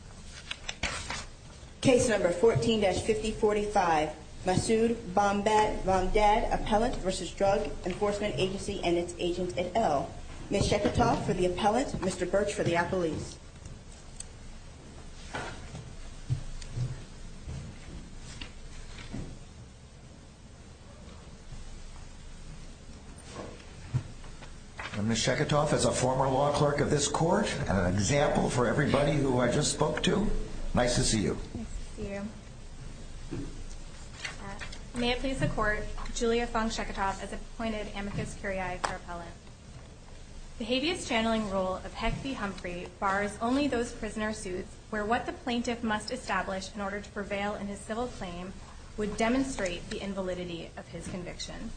Appellant v. Drug Enforcement Agency and its agent et al. Ms. Sheketoff for the appellant, Mr. Birch for the appellees. Ms. Sheketoff is a former law clerk of this court and an example for everybody who I just spoke to. Nice to see you. May it please the Court, Julia Fung Sheketoff as appointed Amicus Curiae for Appellant. The habeas channeling rule of Heck v. Humphrey bars only those prisoner suits where what the plaintiff must establish in order to prevail in his civil claim would demonstrate the invalidity of his conviction.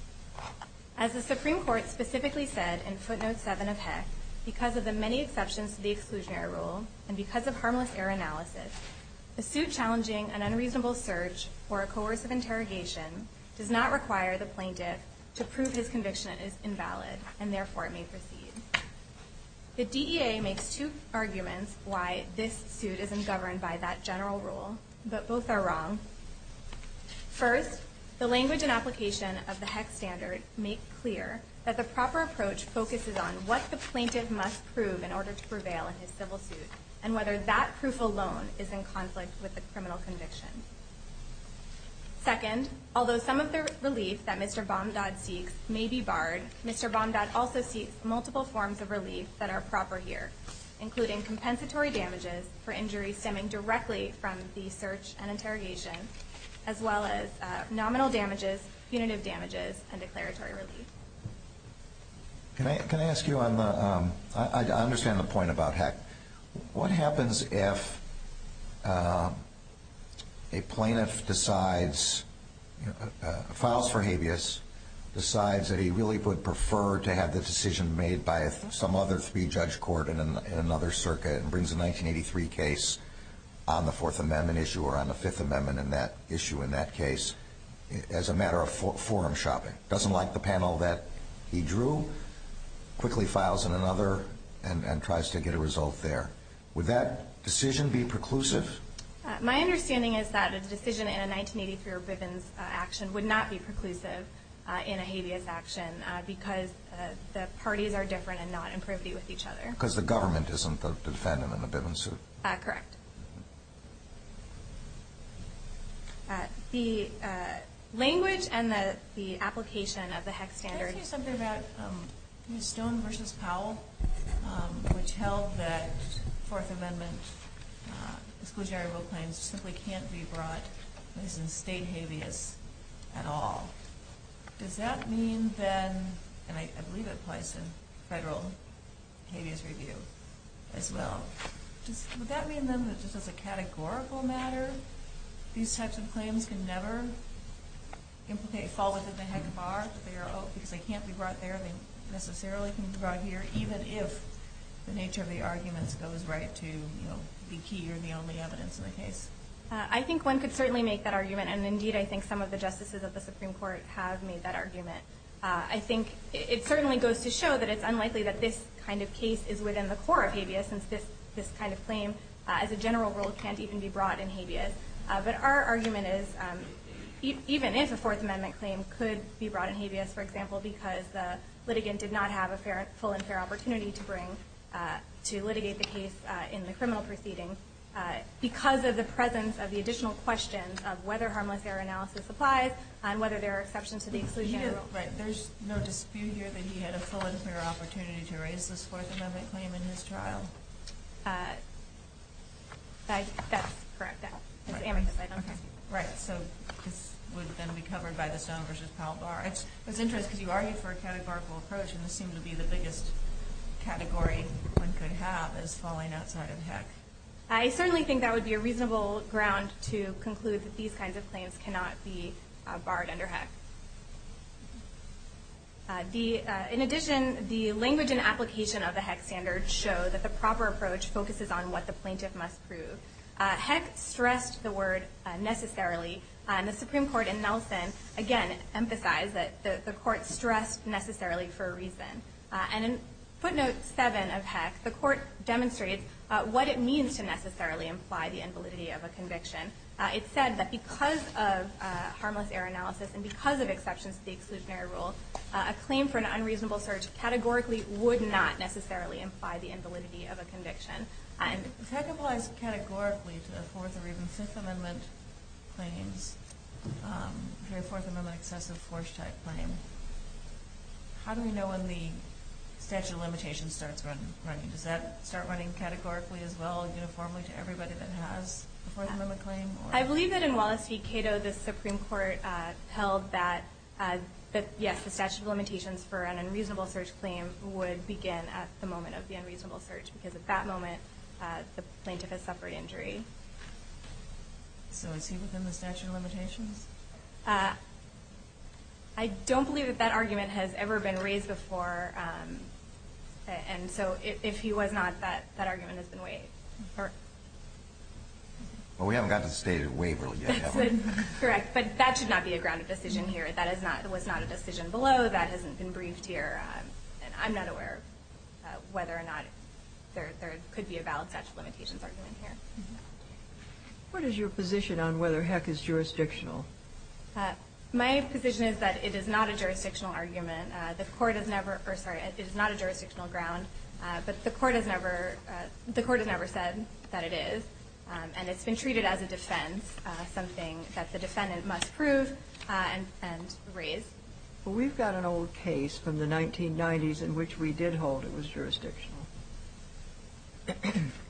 As the Supreme Court specifically said in footnote 7 of Heck, because of the many exceptions to the exclusionary rule and because of harmless error analysis, a suit challenging an unreasonable search or a coercive interrogation does not require the plaintiff to prove his conviction is invalid and therefore it may proceed. The DEA makes two arguments why this suit isn't governed by that general rule, but both are wrong. First, the language and application of the Heck standard make clear that the proper approach focuses on what the plaintiff must prove in order to prevail in his civil suit and whether that proof alone is in conflict with the criminal conviction. Second, although some of the relief that Mr. Bomdod seeks may be barred, Mr. Bomdod also seeks multiple forms of relief that are proper here, including compensatory damages for injuries stemming directly from the search and interrogation, as well as nominal damages, punitive damages, and declaratory relief. Can I ask you, I understand the point about Heck. What happens if a plaintiff decides, files for habeas, decides that he really would prefer to have the decision made by some other three-judge court in another circuit and brings a 1983 case on the Fourth Amendment issue or on the Fifth Amendment issue in that case as a matter of forum shopping? Doesn't like the panel that he drew, quickly files in another and tries to get a result there. Would that decision be preclusive? My understanding is that a decision in a 1983 Bivens action would not be preclusive in a habeas action because the parties are different and not in privity with each other. Because the government isn't the defendant in the Bivens suit. Correct. The language and the application of the Heck standard. Can I ask you something about Stone v. Powell, which held that Fourth Amendment exclusionary rule claims simply can't be brought as a state habeas at all. Does that mean then, and I believe it applies to federal habeas review as well, would that mean then that just as a categorical matter, these types of claims can never fall within the Heck bar? Because they can't be brought there, they necessarily can't be brought here, even if the nature of the arguments goes right to be key or the only evidence in the case. I think one could certainly make that argument, and indeed I think some of the justices of the Supreme Court have made that argument. I think it certainly goes to show that it's unlikely that this kind of case is within the core of habeas, since this kind of claim as a general rule can't even be brought in habeas. But our argument is, even if a Fourth Amendment claim could be brought in habeas, for example, because the litigant did not have a full and fair opportunity to litigate the case in the criminal proceeding, because of the presence of the additional questions of whether harmless error analysis applies and whether there are exceptions to the exclusionary rule. There's no dispute here that he had a full and fair opportunity to raise this Fourth Amendment claim in his trial? That's correct. Right, so this would then be covered by the Stone v. Powell bar. It's interesting, because you argued for a categorical approach, and this seemed to be the biggest category one could have, is falling outside of Heck. I certainly think that would be a reasonable ground to conclude that these kinds of claims cannot be barred under Heck. In addition, the language and application of the Heck standard show that the proper approach focuses on what the plaintiff must prove. Heck stressed the word necessarily, and the Supreme Court in Nelson, again, emphasized that the Court stressed necessarily for a reason. And in footnote 7 of Heck, the Court demonstrates what it means to necessarily imply the invalidity of a conviction. It said that because of harmless error analysis and because of exceptions to the exclusionary rule, a claim for an unreasonable search categorically would not necessarily imply the invalidity of a conviction. If Heck applies categorically to the Fourth or even Fifth Amendment claims, for a Fourth Amendment excessive force type claim, how do we know when the statute of limitations starts running? Does that start running categorically as well, uniformly to everybody that has a Fourth Amendment claim? I believe that in Wallace v. Cato, the Supreme Court held that yes, the statute of limitations for an unreasonable search claim would begin at the moment of the unreasonable search, because at that moment, the plaintiff has suffered injury. So is he within the statute of limitations? I don't believe that that argument has ever been raised before. And so if he was not, that argument has been waived. Well, we haven't gotten to the stated waiver yet, have we? Correct. But that should not be a grounded decision here. That was not a decision below. That hasn't been briefed here. And I'm not aware of whether or not there could be a valid statute of limitations argument here. What is your position on whether Heck is jurisdictional? My position is that it is not a jurisdictional argument. The Court has never – or, sorry, it is not a jurisdictional ground. But the Court has never – the Court has never said that it is. And it's been treated as a defense, something that the defendant must prove and raise. Well, we've got an old case from the 1990s in which we did hold it was jurisdictional.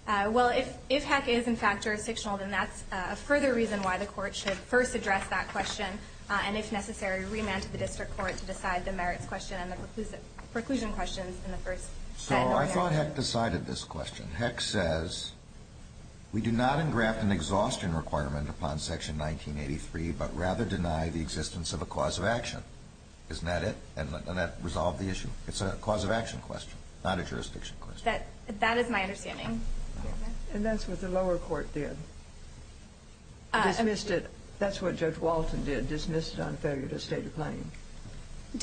Well, if Heck is, in fact, jurisdictional, then that's a further reason why the Court should first address that question and, if necessary, remand to the district court to decide the merits question and the preclusion questions in the first – So I thought Heck decided this question. Heck says, we do not engraft an exhaustion requirement upon Section 1983, but rather deny the existence of a cause of action. Isn't that it? And that resolved the issue. It's a cause of action question, not a jurisdiction question. That is my understanding. And that's what the lower court did. Dismissed it. That's what Judge Walton did, dismissed it on failure to state a claim.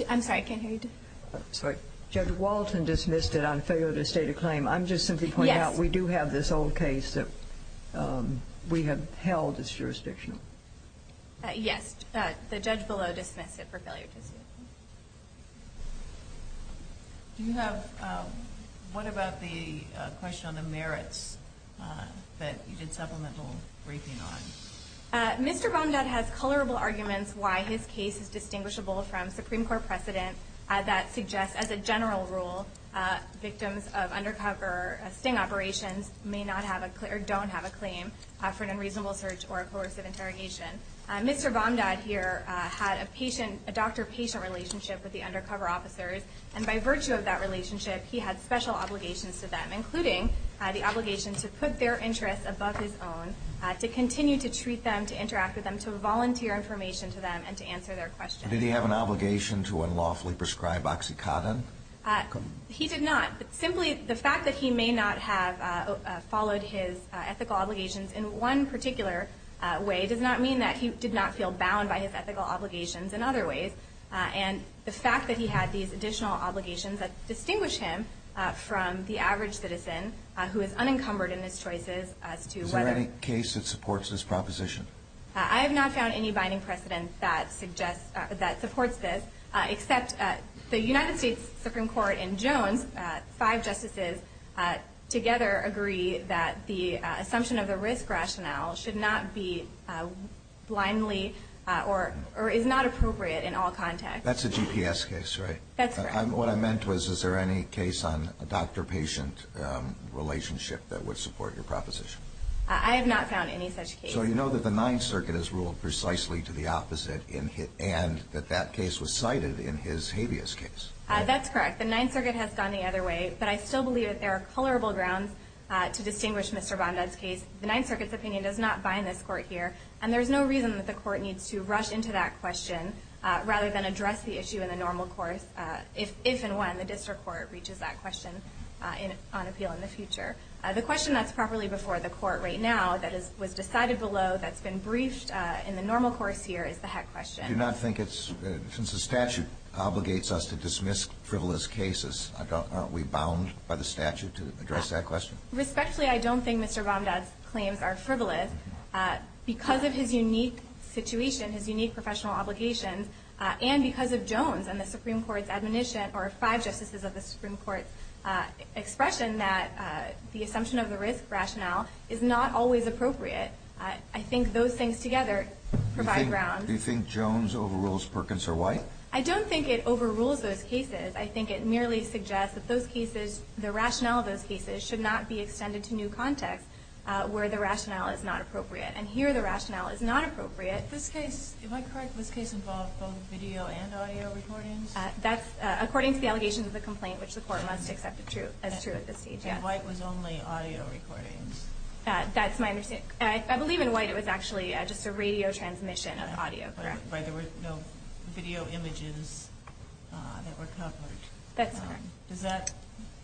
I'm sorry, I can't hear you. Judge Walton dismissed it on failure to state a claim. I'm just simply pointing out we do have this old case that we have held as jurisdictional. Yes. The judge below dismissed it for failure to state a claim. Do you have – what about the question on the merits that you did supplemental briefing on? Mr. Bondat has colorable arguments why his case is distinguishable from Supreme Court precedent that suggests, as a general rule, victims of undercover sting operations may not have a – Mr. Bondat here had a patient – a doctor-patient relationship with the undercover officers, and by virtue of that relationship, he had special obligations to them, including the obligation to put their interests above his own, to continue to treat them, to interact with them, to volunteer information to them, and to answer their questions. Did he have an obligation to unlawfully prescribe oxycodone? He did not. Simply the fact that he may not have followed his ethical obligations in one particular way does not mean that he did not feel bound by his ethical obligations in other ways. And the fact that he had these additional obligations that distinguish him from the average citizen who is unencumbered in his choices as to whether – Is there any case that supports this proposition? I have not found any binding precedent that suggests – that supports this, except the United States Supreme Court and Jones, five justices together, agree that the assumption of the risk rationale should not be blindly – or is not appropriate in all contexts. That's a GPS case, right? That's correct. What I meant was, is there any case on a doctor-patient relationship that would support your proposition? I have not found any such case. So you know that the Ninth Circuit has ruled precisely to the opposite, and that that case was cited in his habeas case, right? That's correct. The Ninth Circuit has gone the other way, but I still believe that there are colorable grounds to distinguish Mr. Bondad's case. The Ninth Circuit's opinion does not bind this court here, and there's no reason that the court needs to rush into that question rather than address the issue in the normal course, if and when the district court reaches that question on appeal in the future. The question that's properly before the court right now, that was decided below, that's been briefed in the normal course here, is the heck question. I do not think it's, since the statute obligates us to dismiss frivolous cases, aren't we bound by the statute to address that question? Respectfully, I don't think Mr. Bondad's claims are frivolous. Because of his unique situation, his unique professional obligations, and because of Jones and the Supreme Court's admonition, or five justices of the Supreme Court's expression, that the assumption of the risk rationale is not always appropriate. I think those things together provide ground. Do you think Jones overrules Perkins or White? I don't think it overrules those cases. I think it merely suggests that those cases, the rationale of those cases, should not be extended to new context where the rationale is not appropriate. And here the rationale is not appropriate. This case, am I correct, this case involved both video and audio recordings? That's according to the allegations of the complaint, which the court must accept as true at this stage, yes. And White was only audio recordings. That's my understanding. I believe in White it was actually just a radio transmission of audio. But there were no video images that were covered. That's correct. Does that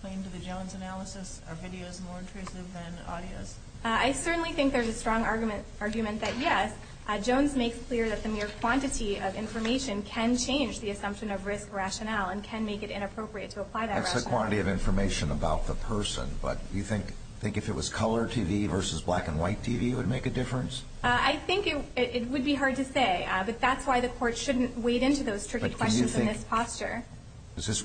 claim to the Jones analysis? Are videos more intrusive than audios? I certainly think there's a strong argument that, yes, Jones makes clear that the mere quantity of information can change the assumption of risk rationale and can make it inappropriate to apply that rationale. That's the quantity of information about the person. Do you think if it was color TV versus black and white TV would make a difference? I think it would be hard to say. But that's why the court shouldn't wade into those tricky questions in this posture. Does this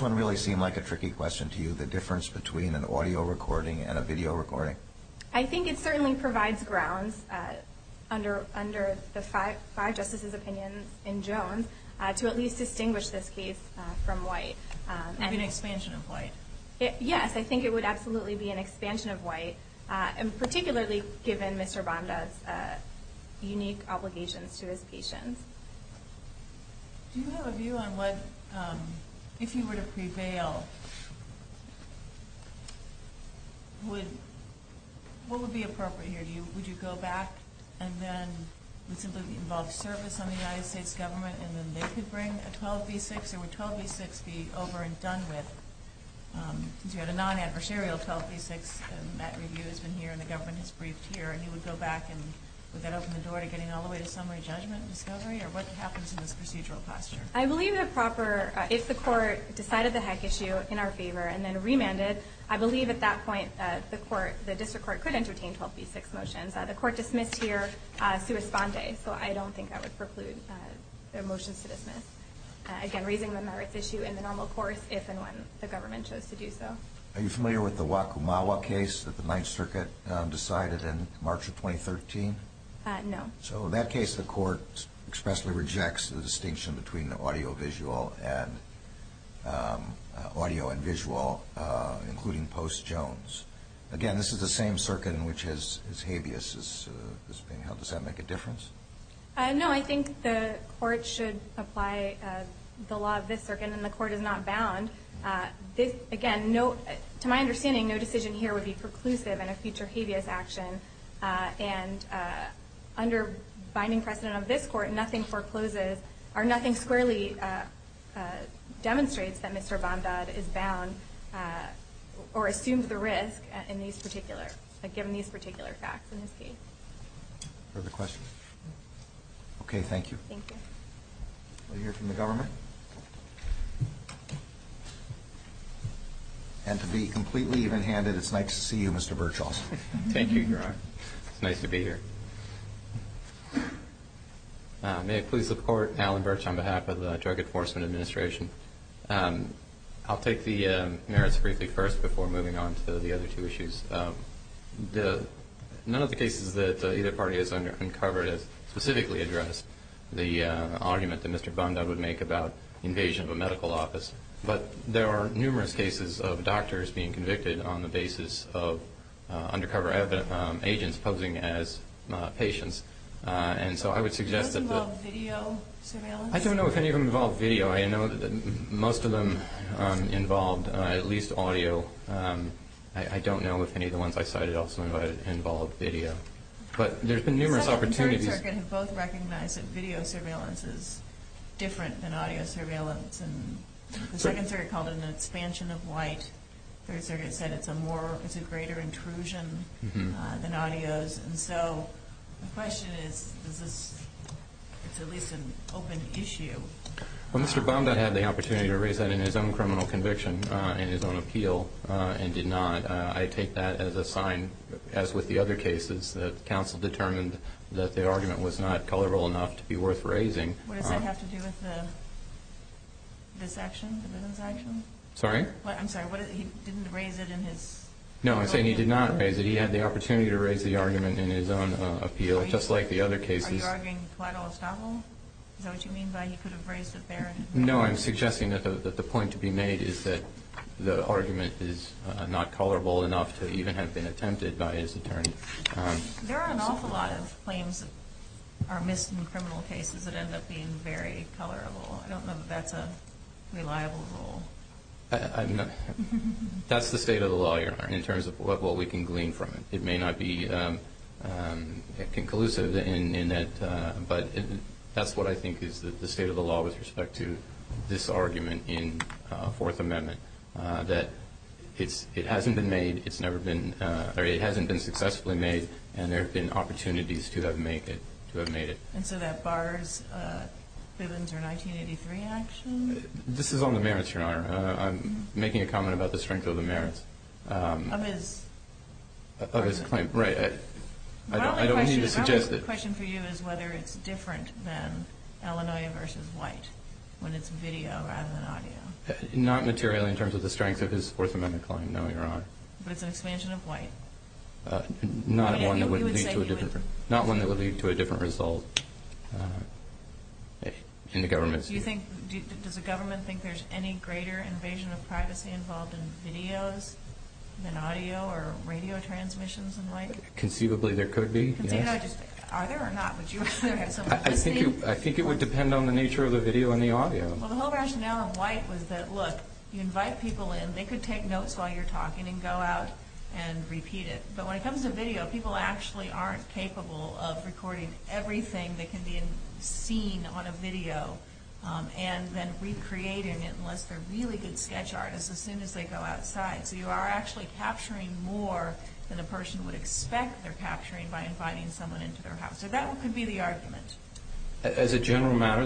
one really seem like a tricky question to you, the difference between an audio recording and a video recording? I think it certainly provides grounds under the five justices' opinions in Jones to at least distinguish this case from White. It would be an expansion of White. Yes, I think it would absolutely be an expansion of White, particularly given Mr. Bonda's unique obligations to his patients. Do you have a view on what, if you were to prevail, what would be appropriate here? Would you go back and then simply involve service on the United States government and then they could bring a 12B6? Or would 12B6 be over and done with? Because you had a non-adversarial 12B6, and that review has been here and the government has briefed here, and you would go back and would that open the door to getting all the way to summary judgment and discovery? Or what happens in this procedural posture? I believe if the court decided the heck issue in our favor and then remanded, I believe at that point the district court could entertain 12B6 motions. The court dismissed here sua sponde, so I don't think I would preclude their motions to dismiss. Again, raising the merits issue in the normal course, if and when the government chose to do so. Are you familiar with the Wakumawa case that the Ninth Circuit decided in March of 2013? No. So in that case the court expressly rejects the distinction between audio and visual, including post Jones. Again, this is the same circuit in which his habeas is being held. Does that make a difference? No. I think the court should apply the law of this circuit, and the court is not bound. Again, to my understanding, no decision here would be preclusive in a future habeas action, and under binding precedent of this court, nothing squarely demonstrates that Mr. Bondad is bound or assumes the risk given these particular facts in his case. Further questions? Okay, thank you. Thank you. We'll hear from the government. And to be completely even-handed, it's nice to see you, Mr. Birchall. Thank you, Your Honor. It's nice to be here. May I please support Alan Birch on behalf of the Drug Enforcement Administration? I'll take the merits briefly first before moving on to the other two issues. None of the cases that either party has uncovered has specifically addressed the argument that Mr. Bondad would make about the invasion of a medical office, but there are numerous cases of doctors being convicted on the basis of undercover agents posing as patients, and so I would suggest that the ---- Does that involve video surveillance? I don't know if any of them involve video. I know that most of them involved at least audio. I don't know if any of the ones I cited also involved video. But there's been numerous opportunities. The Third Circuit had both recognized that video surveillance is different than audio surveillance, and the Second Circuit called it an expansion of white. The Third Circuit said it's a greater intrusion than audio's. And so the question is, is this at least an open issue? Well, Mr. Bondad had the opportunity to raise that in his own criminal conviction and his own appeal and did not. I take that as a sign, as with the other cases, that counsel determined that the argument was not colorful enough to be worth raising. What does that have to do with this action, the business action? Sorry? I'm sorry, he didn't raise it in his ---- No, I'm saying he did not raise it. He had the opportunity to raise the argument in his own appeal, just like the other cases. Are you arguing collateral estoppel? Is that what you mean by he could have raised it there? No, I'm suggesting that the point to be made is that the argument is not colorful enough to even have been attempted by his attorney. There are an awful lot of claims that are missed in criminal cases that end up being very colorful. I don't know that that's a reliable rule. That's the state of the law, Your Honor, in terms of what we can glean from it. It may not be conclusive in that, but that's what I think is the state of the law with respect to this argument in Fourth Amendment, that it hasn't been made, it's never been, or it hasn't been successfully made, and there have been opportunities to have made it. And so that bars Bivens' 1983 action? This is on the merits, Your Honor. I'm making a comment about the strength of the merits. Of his? Of his claim, right. My only question for you is whether it's different than Illinois versus White, when it's video rather than audio. Not materially in terms of the strength of his Fourth Amendment claim, no, Your Honor. But it's an expansion of White. Not one that would lead to a different result in the government's view. Does the government think there's any greater invasion of privacy involved in videos than audio or radio transmissions in White? Conceivably there could be, yes. Are there or not? I think it would depend on the nature of the video and the audio. Well, the whole rationale in White was that, look, you invite people in, they could take notes while you're talking and go out and repeat it. But when it comes to video, people actually aren't capable of recording everything that can be seen on a video and then recreating it unless they're really good sketch artists as soon as they go outside. So you are actually capturing more than a person would expect they're capturing by inviting someone into their house. So that could be the argument. As a general matter,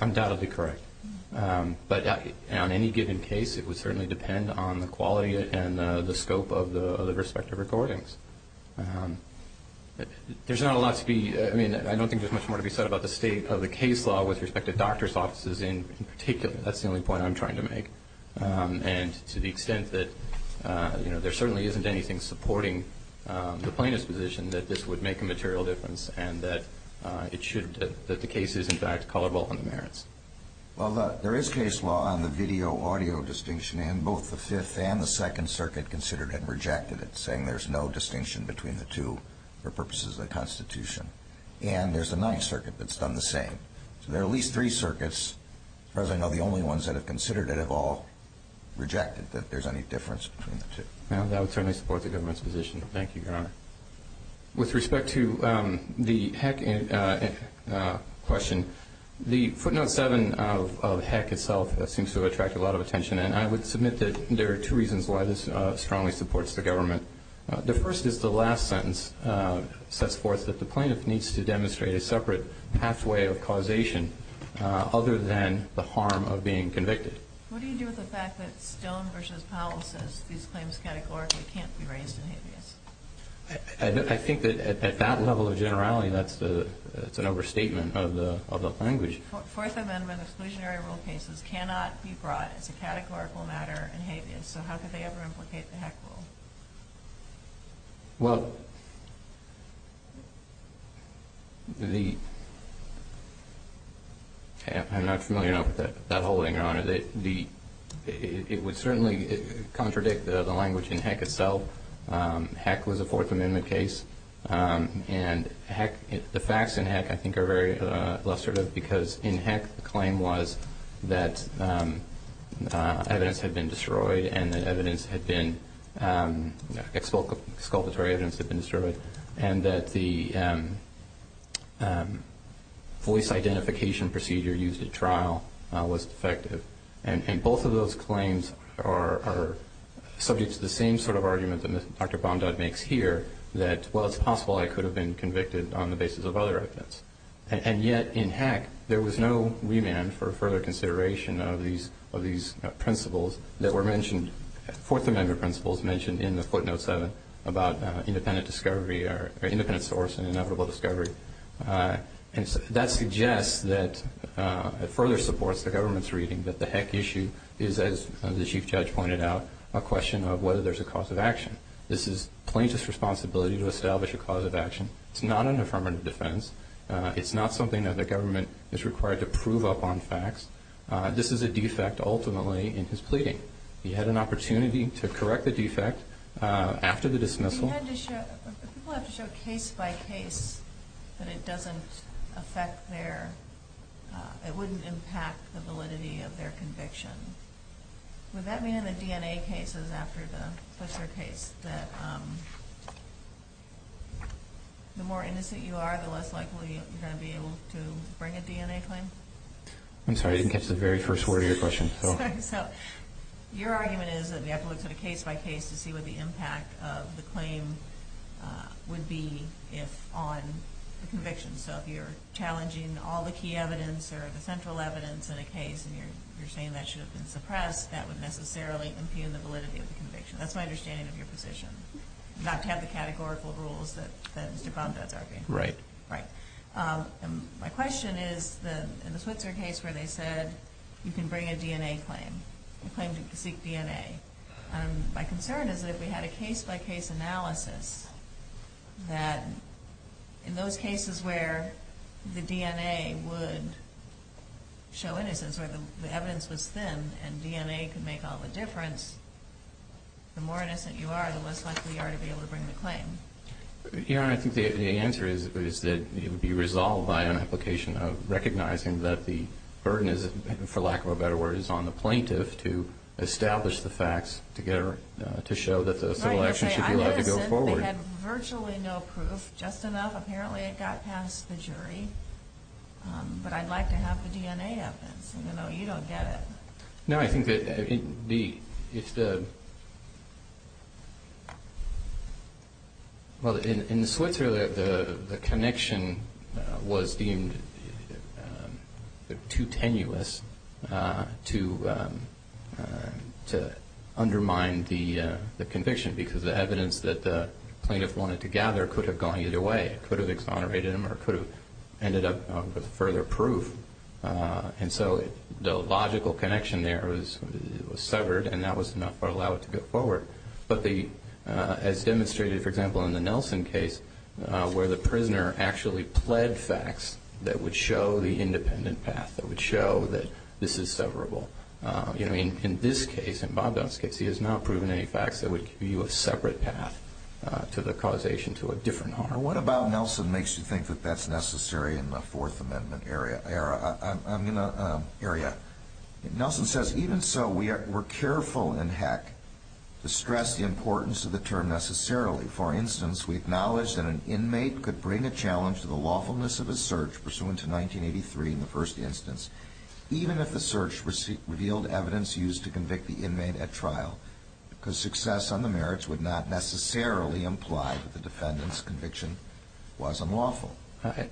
I'm doubtedly correct. But on any given case, it would certainly depend on the quality and the scope of the respective recordings. There's not a lot to be ‑‑ I mean, I don't think there's much more to be said about the state of the case law with respect to doctor's offices in particular. That's the only point I'm trying to make. And to the extent that, you know, there certainly isn't anything supporting the plaintiff's position that this would make a material difference and that it should ‑‑ that the case is, in fact, colorable in the merits. Well, there is case law on the video audio distinction, and both the Fifth and the Second Circuit considered it and rejected it, saying there's no distinction between the two for purposes of the Constitution. And there's the Ninth Circuit that's done the same. So there are at least three circuits. As far as I know, the only ones that have considered it have all rejected that there's any difference between the two. Well, that would certainly support the government's position. Thank you, Your Honor. With respect to the Heck question, the footnote 7 of Heck itself seems to attract a lot of attention. And I would submit that there are two reasons why this strongly supports the government. The first is the last sentence sets forth that the plaintiff needs to demonstrate a separate pathway of causation other than the harm of being convicted. What do you do with the fact that Stone v. Powell says these claims categorically can't be raised in habeas? I think that at that level of generality, that's an overstatement of the language. The Fourth Amendment exclusionary rule cases cannot be brought as a categorical matter in habeas. So how could they ever implicate the Heck rule? Well, I'm not familiar enough with that whole thing, Your Honor. It would certainly contradict the language in Heck itself. Heck was a Fourth Amendment case. And the facts in Heck I think are very illustrative because in Heck the claim was that evidence had been destroyed and that sculpted evidence had been destroyed and that the voice identification procedure used at trial was defective. And both of those claims are subject to the same sort of argument that Dr. Bondod makes here, that, well, it's possible I could have been convicted on the basis of other evidence. And yet in Heck there was no remand for further consideration of these principles that were mentioned, Fourth Amendment principles mentioned in the footnote 7 about independent discovery or independent source and inevitable discovery. And that suggests that it further supports the government's reading that the Heck issue is, as the Chief Judge pointed out, a question of whether there's a cause of action. This is plaintiff's responsibility to establish a cause of action. It's not an affirmative defense. It's not something that the government is required to prove up on facts. This is a defect ultimately in his pleading. He had an opportunity to correct the defect after the dismissal. If people have to show case by case that it doesn't affect their, it wouldn't impact the validity of their conviction, would that mean in the DNA cases after the Clisher case that the more innocent you are, the less likely you're going to be able to bring a DNA claim? I'm sorry, I didn't catch the very first word of your question. Sorry. So your argument is that we have to look at a case by case to see what the impact of the claim would be on the conviction. So if you're challenging all the key evidence or the central evidence in a case and you're saying that should have been suppressed, that would necessarily impugn the validity of the conviction. That's my understanding of your position, not to have the categorical rules that Mr. Bondad's arguing. Right. My question is in the Switzer case where they said you can bring a DNA claim, a claim to seek DNA, my concern is that if we had a case by case analysis that in those cases where the DNA would show innocence, where the evidence was thin and DNA could make all the difference, the more innocent you are, the less likely you are to be able to bring the claim. Your Honor, I think the answer is that it would be resolved by an application of recognizing that the burden is, for lack of a better word, is on the plaintiff to establish the facts to show that the civil action should be allowed to go forward. Right. They had virtually no proof, just enough. Apparently it got past the jury. But I'd like to have the DNA evidence, even though you don't get it. No, I think that if the – well, in the Switzer, the connection was deemed too tenuous to undermine the conviction because the evidence that the plaintiff wanted to gather could have gone either way. It could have exonerated him or could have ended up with further proof. And so the logical connection there was severed and that was enough to allow it to go forward. But as demonstrated, for example, in the Nelson case, where the prisoner actually pled facts that would show the independent path, that would show that this is severable. In this case, in Bob Dunn's case, he has not proven any facts that would give you a separate path to the causation to a different harm. And what about Nelson makes you think that that's necessary in the Fourth Amendment area? Nelson says, even so, we're careful in Heck to stress the importance of the term necessarily. For instance, we acknowledge that an inmate could bring a challenge to the lawfulness of a search pursuant to 1983 in the first instance, even if the search revealed evidence used to convict the inmate at trial, because success on the merits would not necessarily imply that the defendant's conviction was unlawful.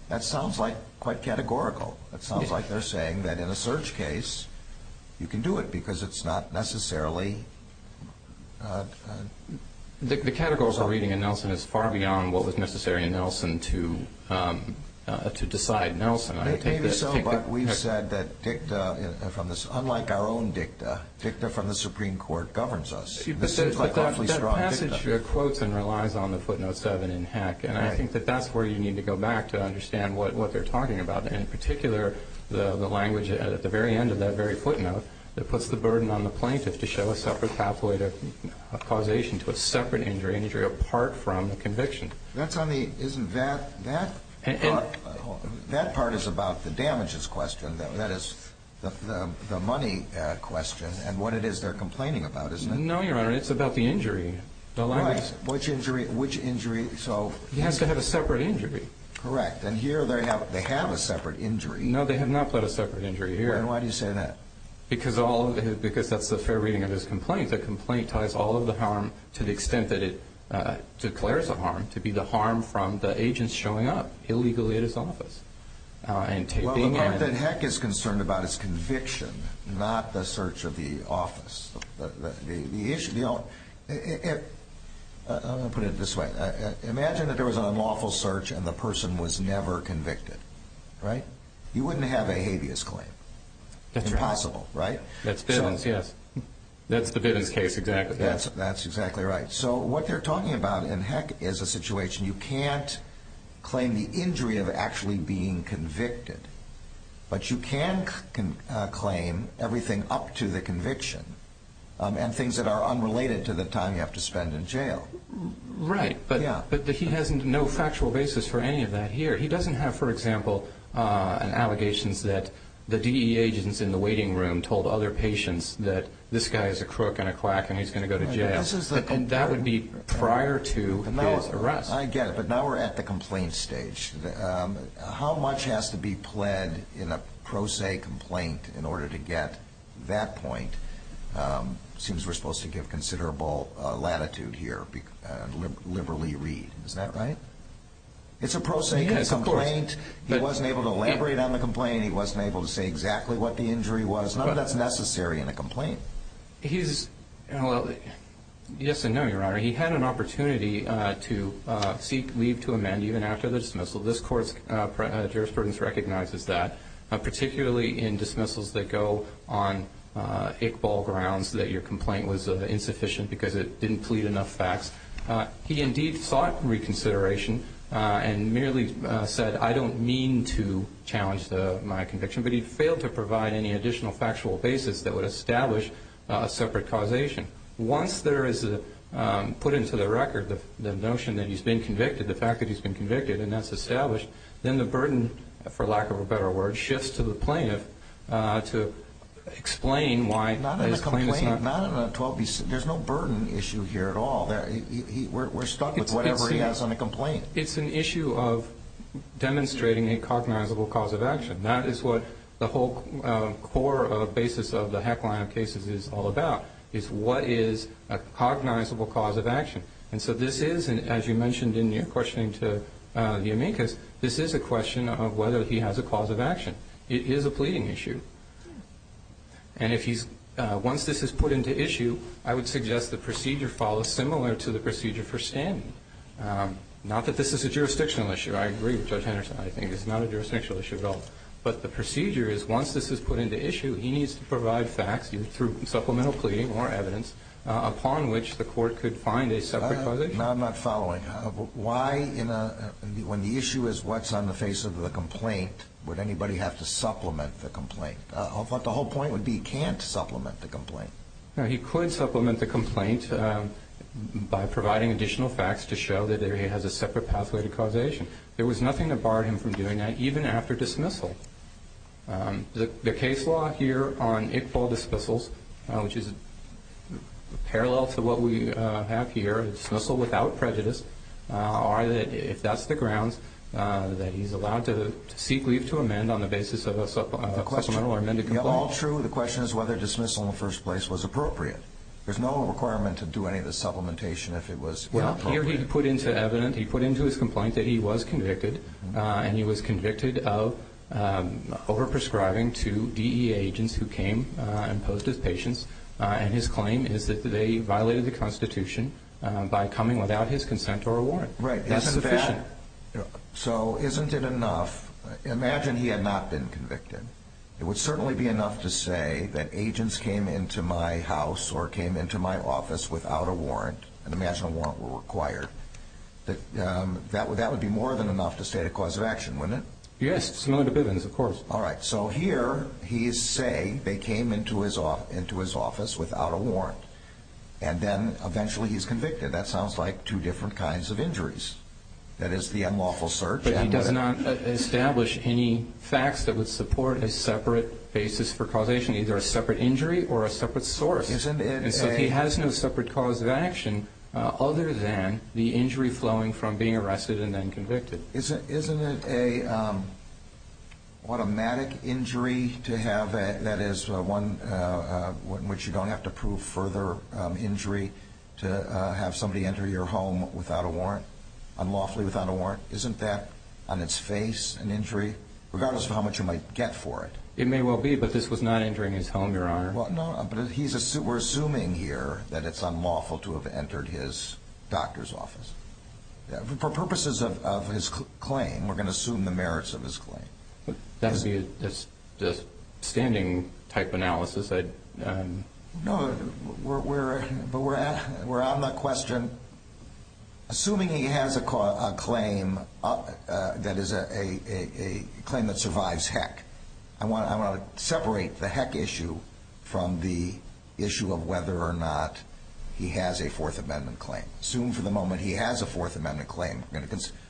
That sounds like quite categorical. It sounds like they're saying that in a search case, you can do it because it's not necessarily. The categories are reading and Nelson is far beyond what was necessary in Nelson to decide Nelson. Maybe so, but we've said that dicta, unlike our own dicta, dicta from the Supreme Court governs us. But that passage quotes and relies on the footnote seven in Heck, and I think that that's where you need to go back to understand what they're talking about. In particular, the language at the very end of that very footnote that puts the burden on the plaintiff to show a separate pathway of causation to a separate injury, an injury apart from the conviction. That's on the, isn't that, that part is about the damages question. That is the money question and what it is they're complaining about, isn't it? No, Your Honor, it's about the injury. Right, which injury, which injury, so. He has to have a separate injury. Correct, and here they have a separate injury. No, they have not put a separate injury here. And why do you say that? Because that's the fair reading of his complaint. I think the complaint ties all of the harm to the extent that it declares a harm, to be the harm from the agents showing up illegally at his office and taping and... Well, the part that Heck is concerned about is conviction, not the search of the office. The issue, you know, I'm going to put it this way. Imagine that there was an unlawful search and the person was never convicted, right? You wouldn't have a habeas claim. That's right. Impossible, right? That's evidence, yes. That's the Bidens case, exactly. That's exactly right. So what they're talking about in Heck is a situation... You can't claim the injury of actually being convicted, but you can claim everything up to the conviction and things that are unrelated to the time you have to spend in jail. Right, but he has no factual basis for any of that here. He doesn't have, for example, allegations that the DE agents in the waiting room told other patients that this guy is a crook and a quack and he's going to go to jail. And that would be prior to his arrest. I get it, but now we're at the complaint stage. How much has to be pled in a pro se complaint in order to get that point? It seems we're supposed to give considerable latitude here, liberally read. Is that right? It's a pro se complaint. He wasn't able to elaborate on the complaint. He wasn't able to say exactly what the injury was. None of that's necessary in a complaint. Yes and no, Your Honor. He had an opportunity to seek leave to amend even after the dismissal. This Court's jurisprudence recognizes that, particularly in dismissals that go on Iqbal grounds that your complaint was insufficient because it didn't plead enough facts. He indeed sought reconsideration and merely said, I don't mean to challenge my conviction. But he failed to provide any additional factual basis that would establish a separate causation. Once there is put into the record the notion that he's been convicted, the fact that he's been convicted, and that's established, then the burden, for lack of a better word, shifts to the plaintiff to explain why his claim is not. There's no burden issue here at all. We're stuck with whatever he has on the complaint. It's an issue of demonstrating a cognizable cause of action. That is what the whole core basis of the heckling of cases is all about, is what is a cognizable cause of action. And so this is, as you mentioned in your questioning to Yamikas, this is a question of whether he has a cause of action. It is a pleading issue. And once this is put into issue, I would suggest the procedure follows similar to the procedure for standing. Not that this is a jurisdictional issue. I agree with Judge Henderson. I think it's not a jurisdictional issue at all. But the procedure is, once this is put into issue, he needs to provide facts through supplemental pleading or evidence upon which the court could find a separate causation. No, I'm not following. Why, when the issue is what's on the face of the complaint, would anybody have to supplement the complaint? I thought the whole point would be he can't supplement the complaint. No, he could supplement the complaint by providing additional facts to show that he has a separate pathway to causation. There was nothing that barred him from doing that, even after dismissal. The case law here on Iqbal dismissals, which is parallel to what we have here, dismissal without prejudice, if that's the grounds that he's allowed to seek leave to amend on the basis of a supplemental or amended complaint. The question is whether dismissal in the first place was appropriate. There's no requirement to do any of the supplementation if it was not appropriate. Well, here he put into evidence, he put into his complaint that he was convicted, and he was convicted of overprescribing to DEA agents who came and posed as patients. And his claim is that they violated the Constitution by coming without his consent or a warrant. Right. That's sufficient. So isn't it enough? Imagine he had not been convicted. It would certainly be enough to say that agents came into my house or came into my office without a warrant, and imagine a warrant were required. That would be more than enough to state a cause of action, wouldn't it? Yes, similar to Bivens, of course. All right, so here he is saying they came into his office without a warrant, and then eventually he's convicted. That sounds like two different kinds of injuries. That is the unlawful search. But he does not establish any facts that would support a separate basis for causation, either a separate injury or a separate source. And so he has no separate cause of action other than the injury flowing from being arrested and then convicted. So isn't it an automatic injury to have that is one in which you don't have to prove further injury to have somebody enter your home without a warrant, unlawfully without a warrant? Isn't that on its face an injury, regardless of how much you might get for it? It may well be, but this was not entering his home, Your Honor. No, but we're assuming here that it's unlawful to have entered his doctor's office. For purposes of his claim, we're going to assume the merits of his claim. That would be a standing-type analysis. No, but we're on the question. Assuming he has a claim that is a claim that survives heck, I want to separate the heck issue from the issue of whether or not he has a Fourth Amendment claim. Assume for the moment he has a Fourth Amendment claim.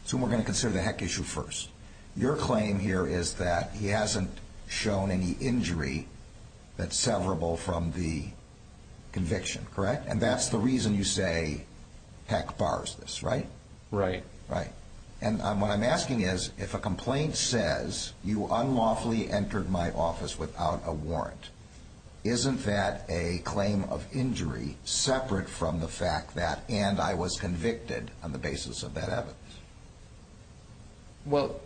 Assume we're going to consider the heck issue first. Your claim here is that he hasn't shown any injury that's severable from the conviction, correct? And that's the reason you say heck bars this, right? Right. And what I'm asking is, if a complaint says you unlawfully entered my office without a warrant, isn't that a claim of injury separate from the fact that and I was convicted on the basis of that evidence? Well,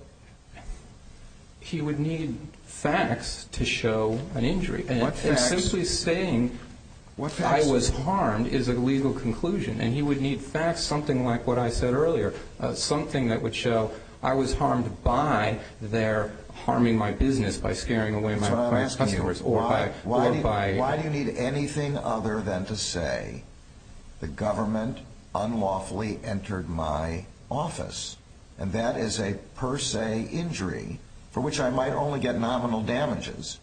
he would need facts to show an injury. And simply saying I was harmed is a legal conclusion. And he would need facts, something like what I said earlier, something that would show I was harmed by their harming my business by scaring away my customers. Why do you need anything other than to say the government unlawfully entered my office? And that is a per se injury for which I might only get nominal damages,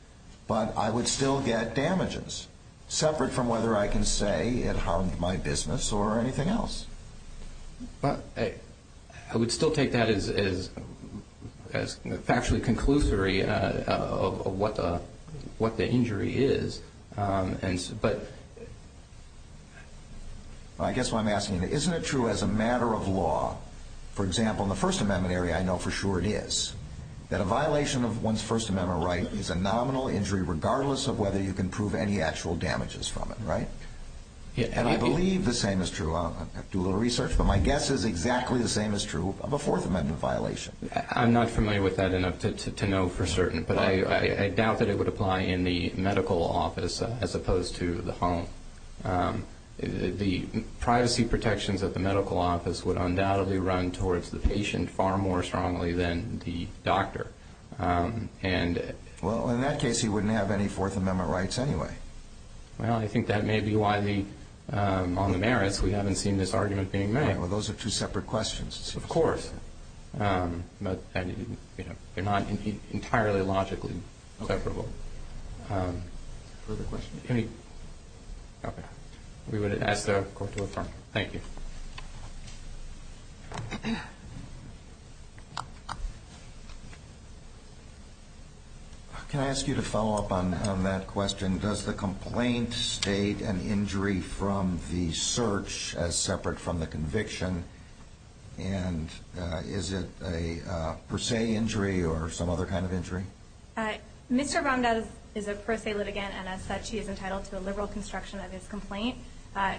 but I would still get damages separate from whether I can say it harmed my business or anything else. But I would still take that as factually conclusory of what the injury is. But I guess what I'm asking, isn't it true as a matter of law, for example, in the First Amendment area I know for sure it is, that a violation of one's First Amendment right is a nominal injury regardless of whether you can prove any actual damages from it, right? And I believe the same is true. I do a little research, but my guess is exactly the same is true of a Fourth Amendment violation. I'm not familiar with that enough to know for certain, but I doubt that it would apply in the medical office as opposed to the home. The privacy protections at the medical office would undoubtedly run towards the patient far more strongly than the doctor. Well, in that case he wouldn't have any Fourth Amendment rights anyway. Well, I think that may be why on the merits we haven't seen this argument being made. All right. Well, those are two separate questions. Of course. But they're not entirely logically comparable. Further questions? Okay. We would ask the Court to affirm. Thank you. Can I ask you to follow up on that question? Does the complaint state an injury from the search as separate from the conviction? And is it a per se injury or some other kind of injury? Mr. Vamdas is a per se litigant, and as such, he is entitled to a liberal construction of his complaint.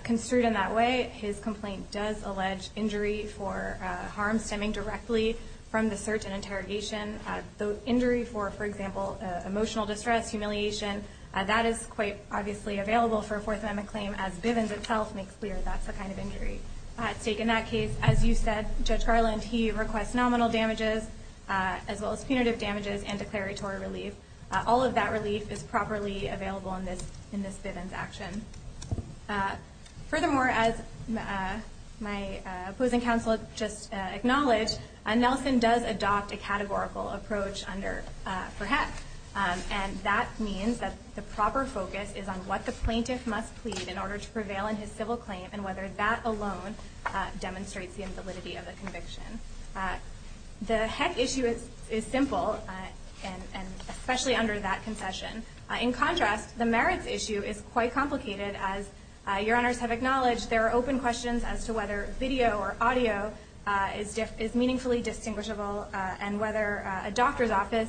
Construed in that way, his complaint does allege injury for harm stemming directly from the search and interrogation. The injury for, for example, emotional distress, humiliation, that is quite obviously available for a Fourth Amendment claim, as Bivens itself makes clear that's the kind of injury at stake in that case. As you said, Judge Garland, he requests nominal damages as well as punitive damages and declaratory relief. All of that relief is properly available in this Bivens action. Furthermore, as my opposing counsel just acknowledged, Nelson does adopt a categorical approach under, for HEC. And that means that the proper focus is on what the plaintiff must plead in order to prevail in his civil claim and whether that alone demonstrates the invalidity of the conviction. The HEC issue is simple, and especially under that concession. In contrast, the merits issue is quite complicated. As your honors have acknowledged, there are open questions as to whether video or audio is meaningfully distinguishable and whether a doctor's office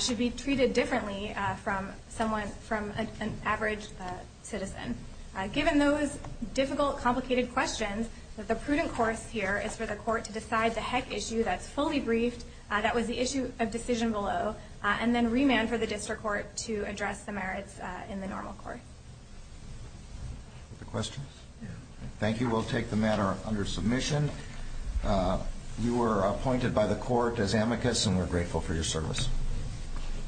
should be treated differently from someone, from an average citizen. Given those difficult, complicated questions, the prudent course here is for the court to decide the HEC issue that's fully briefed, that was the issue of decision below, and then remand for the district court to address the merits in the normal court. Other questions? Thank you. We'll take the matter under submission. You were appointed by the court as amicus, and we're grateful for your service.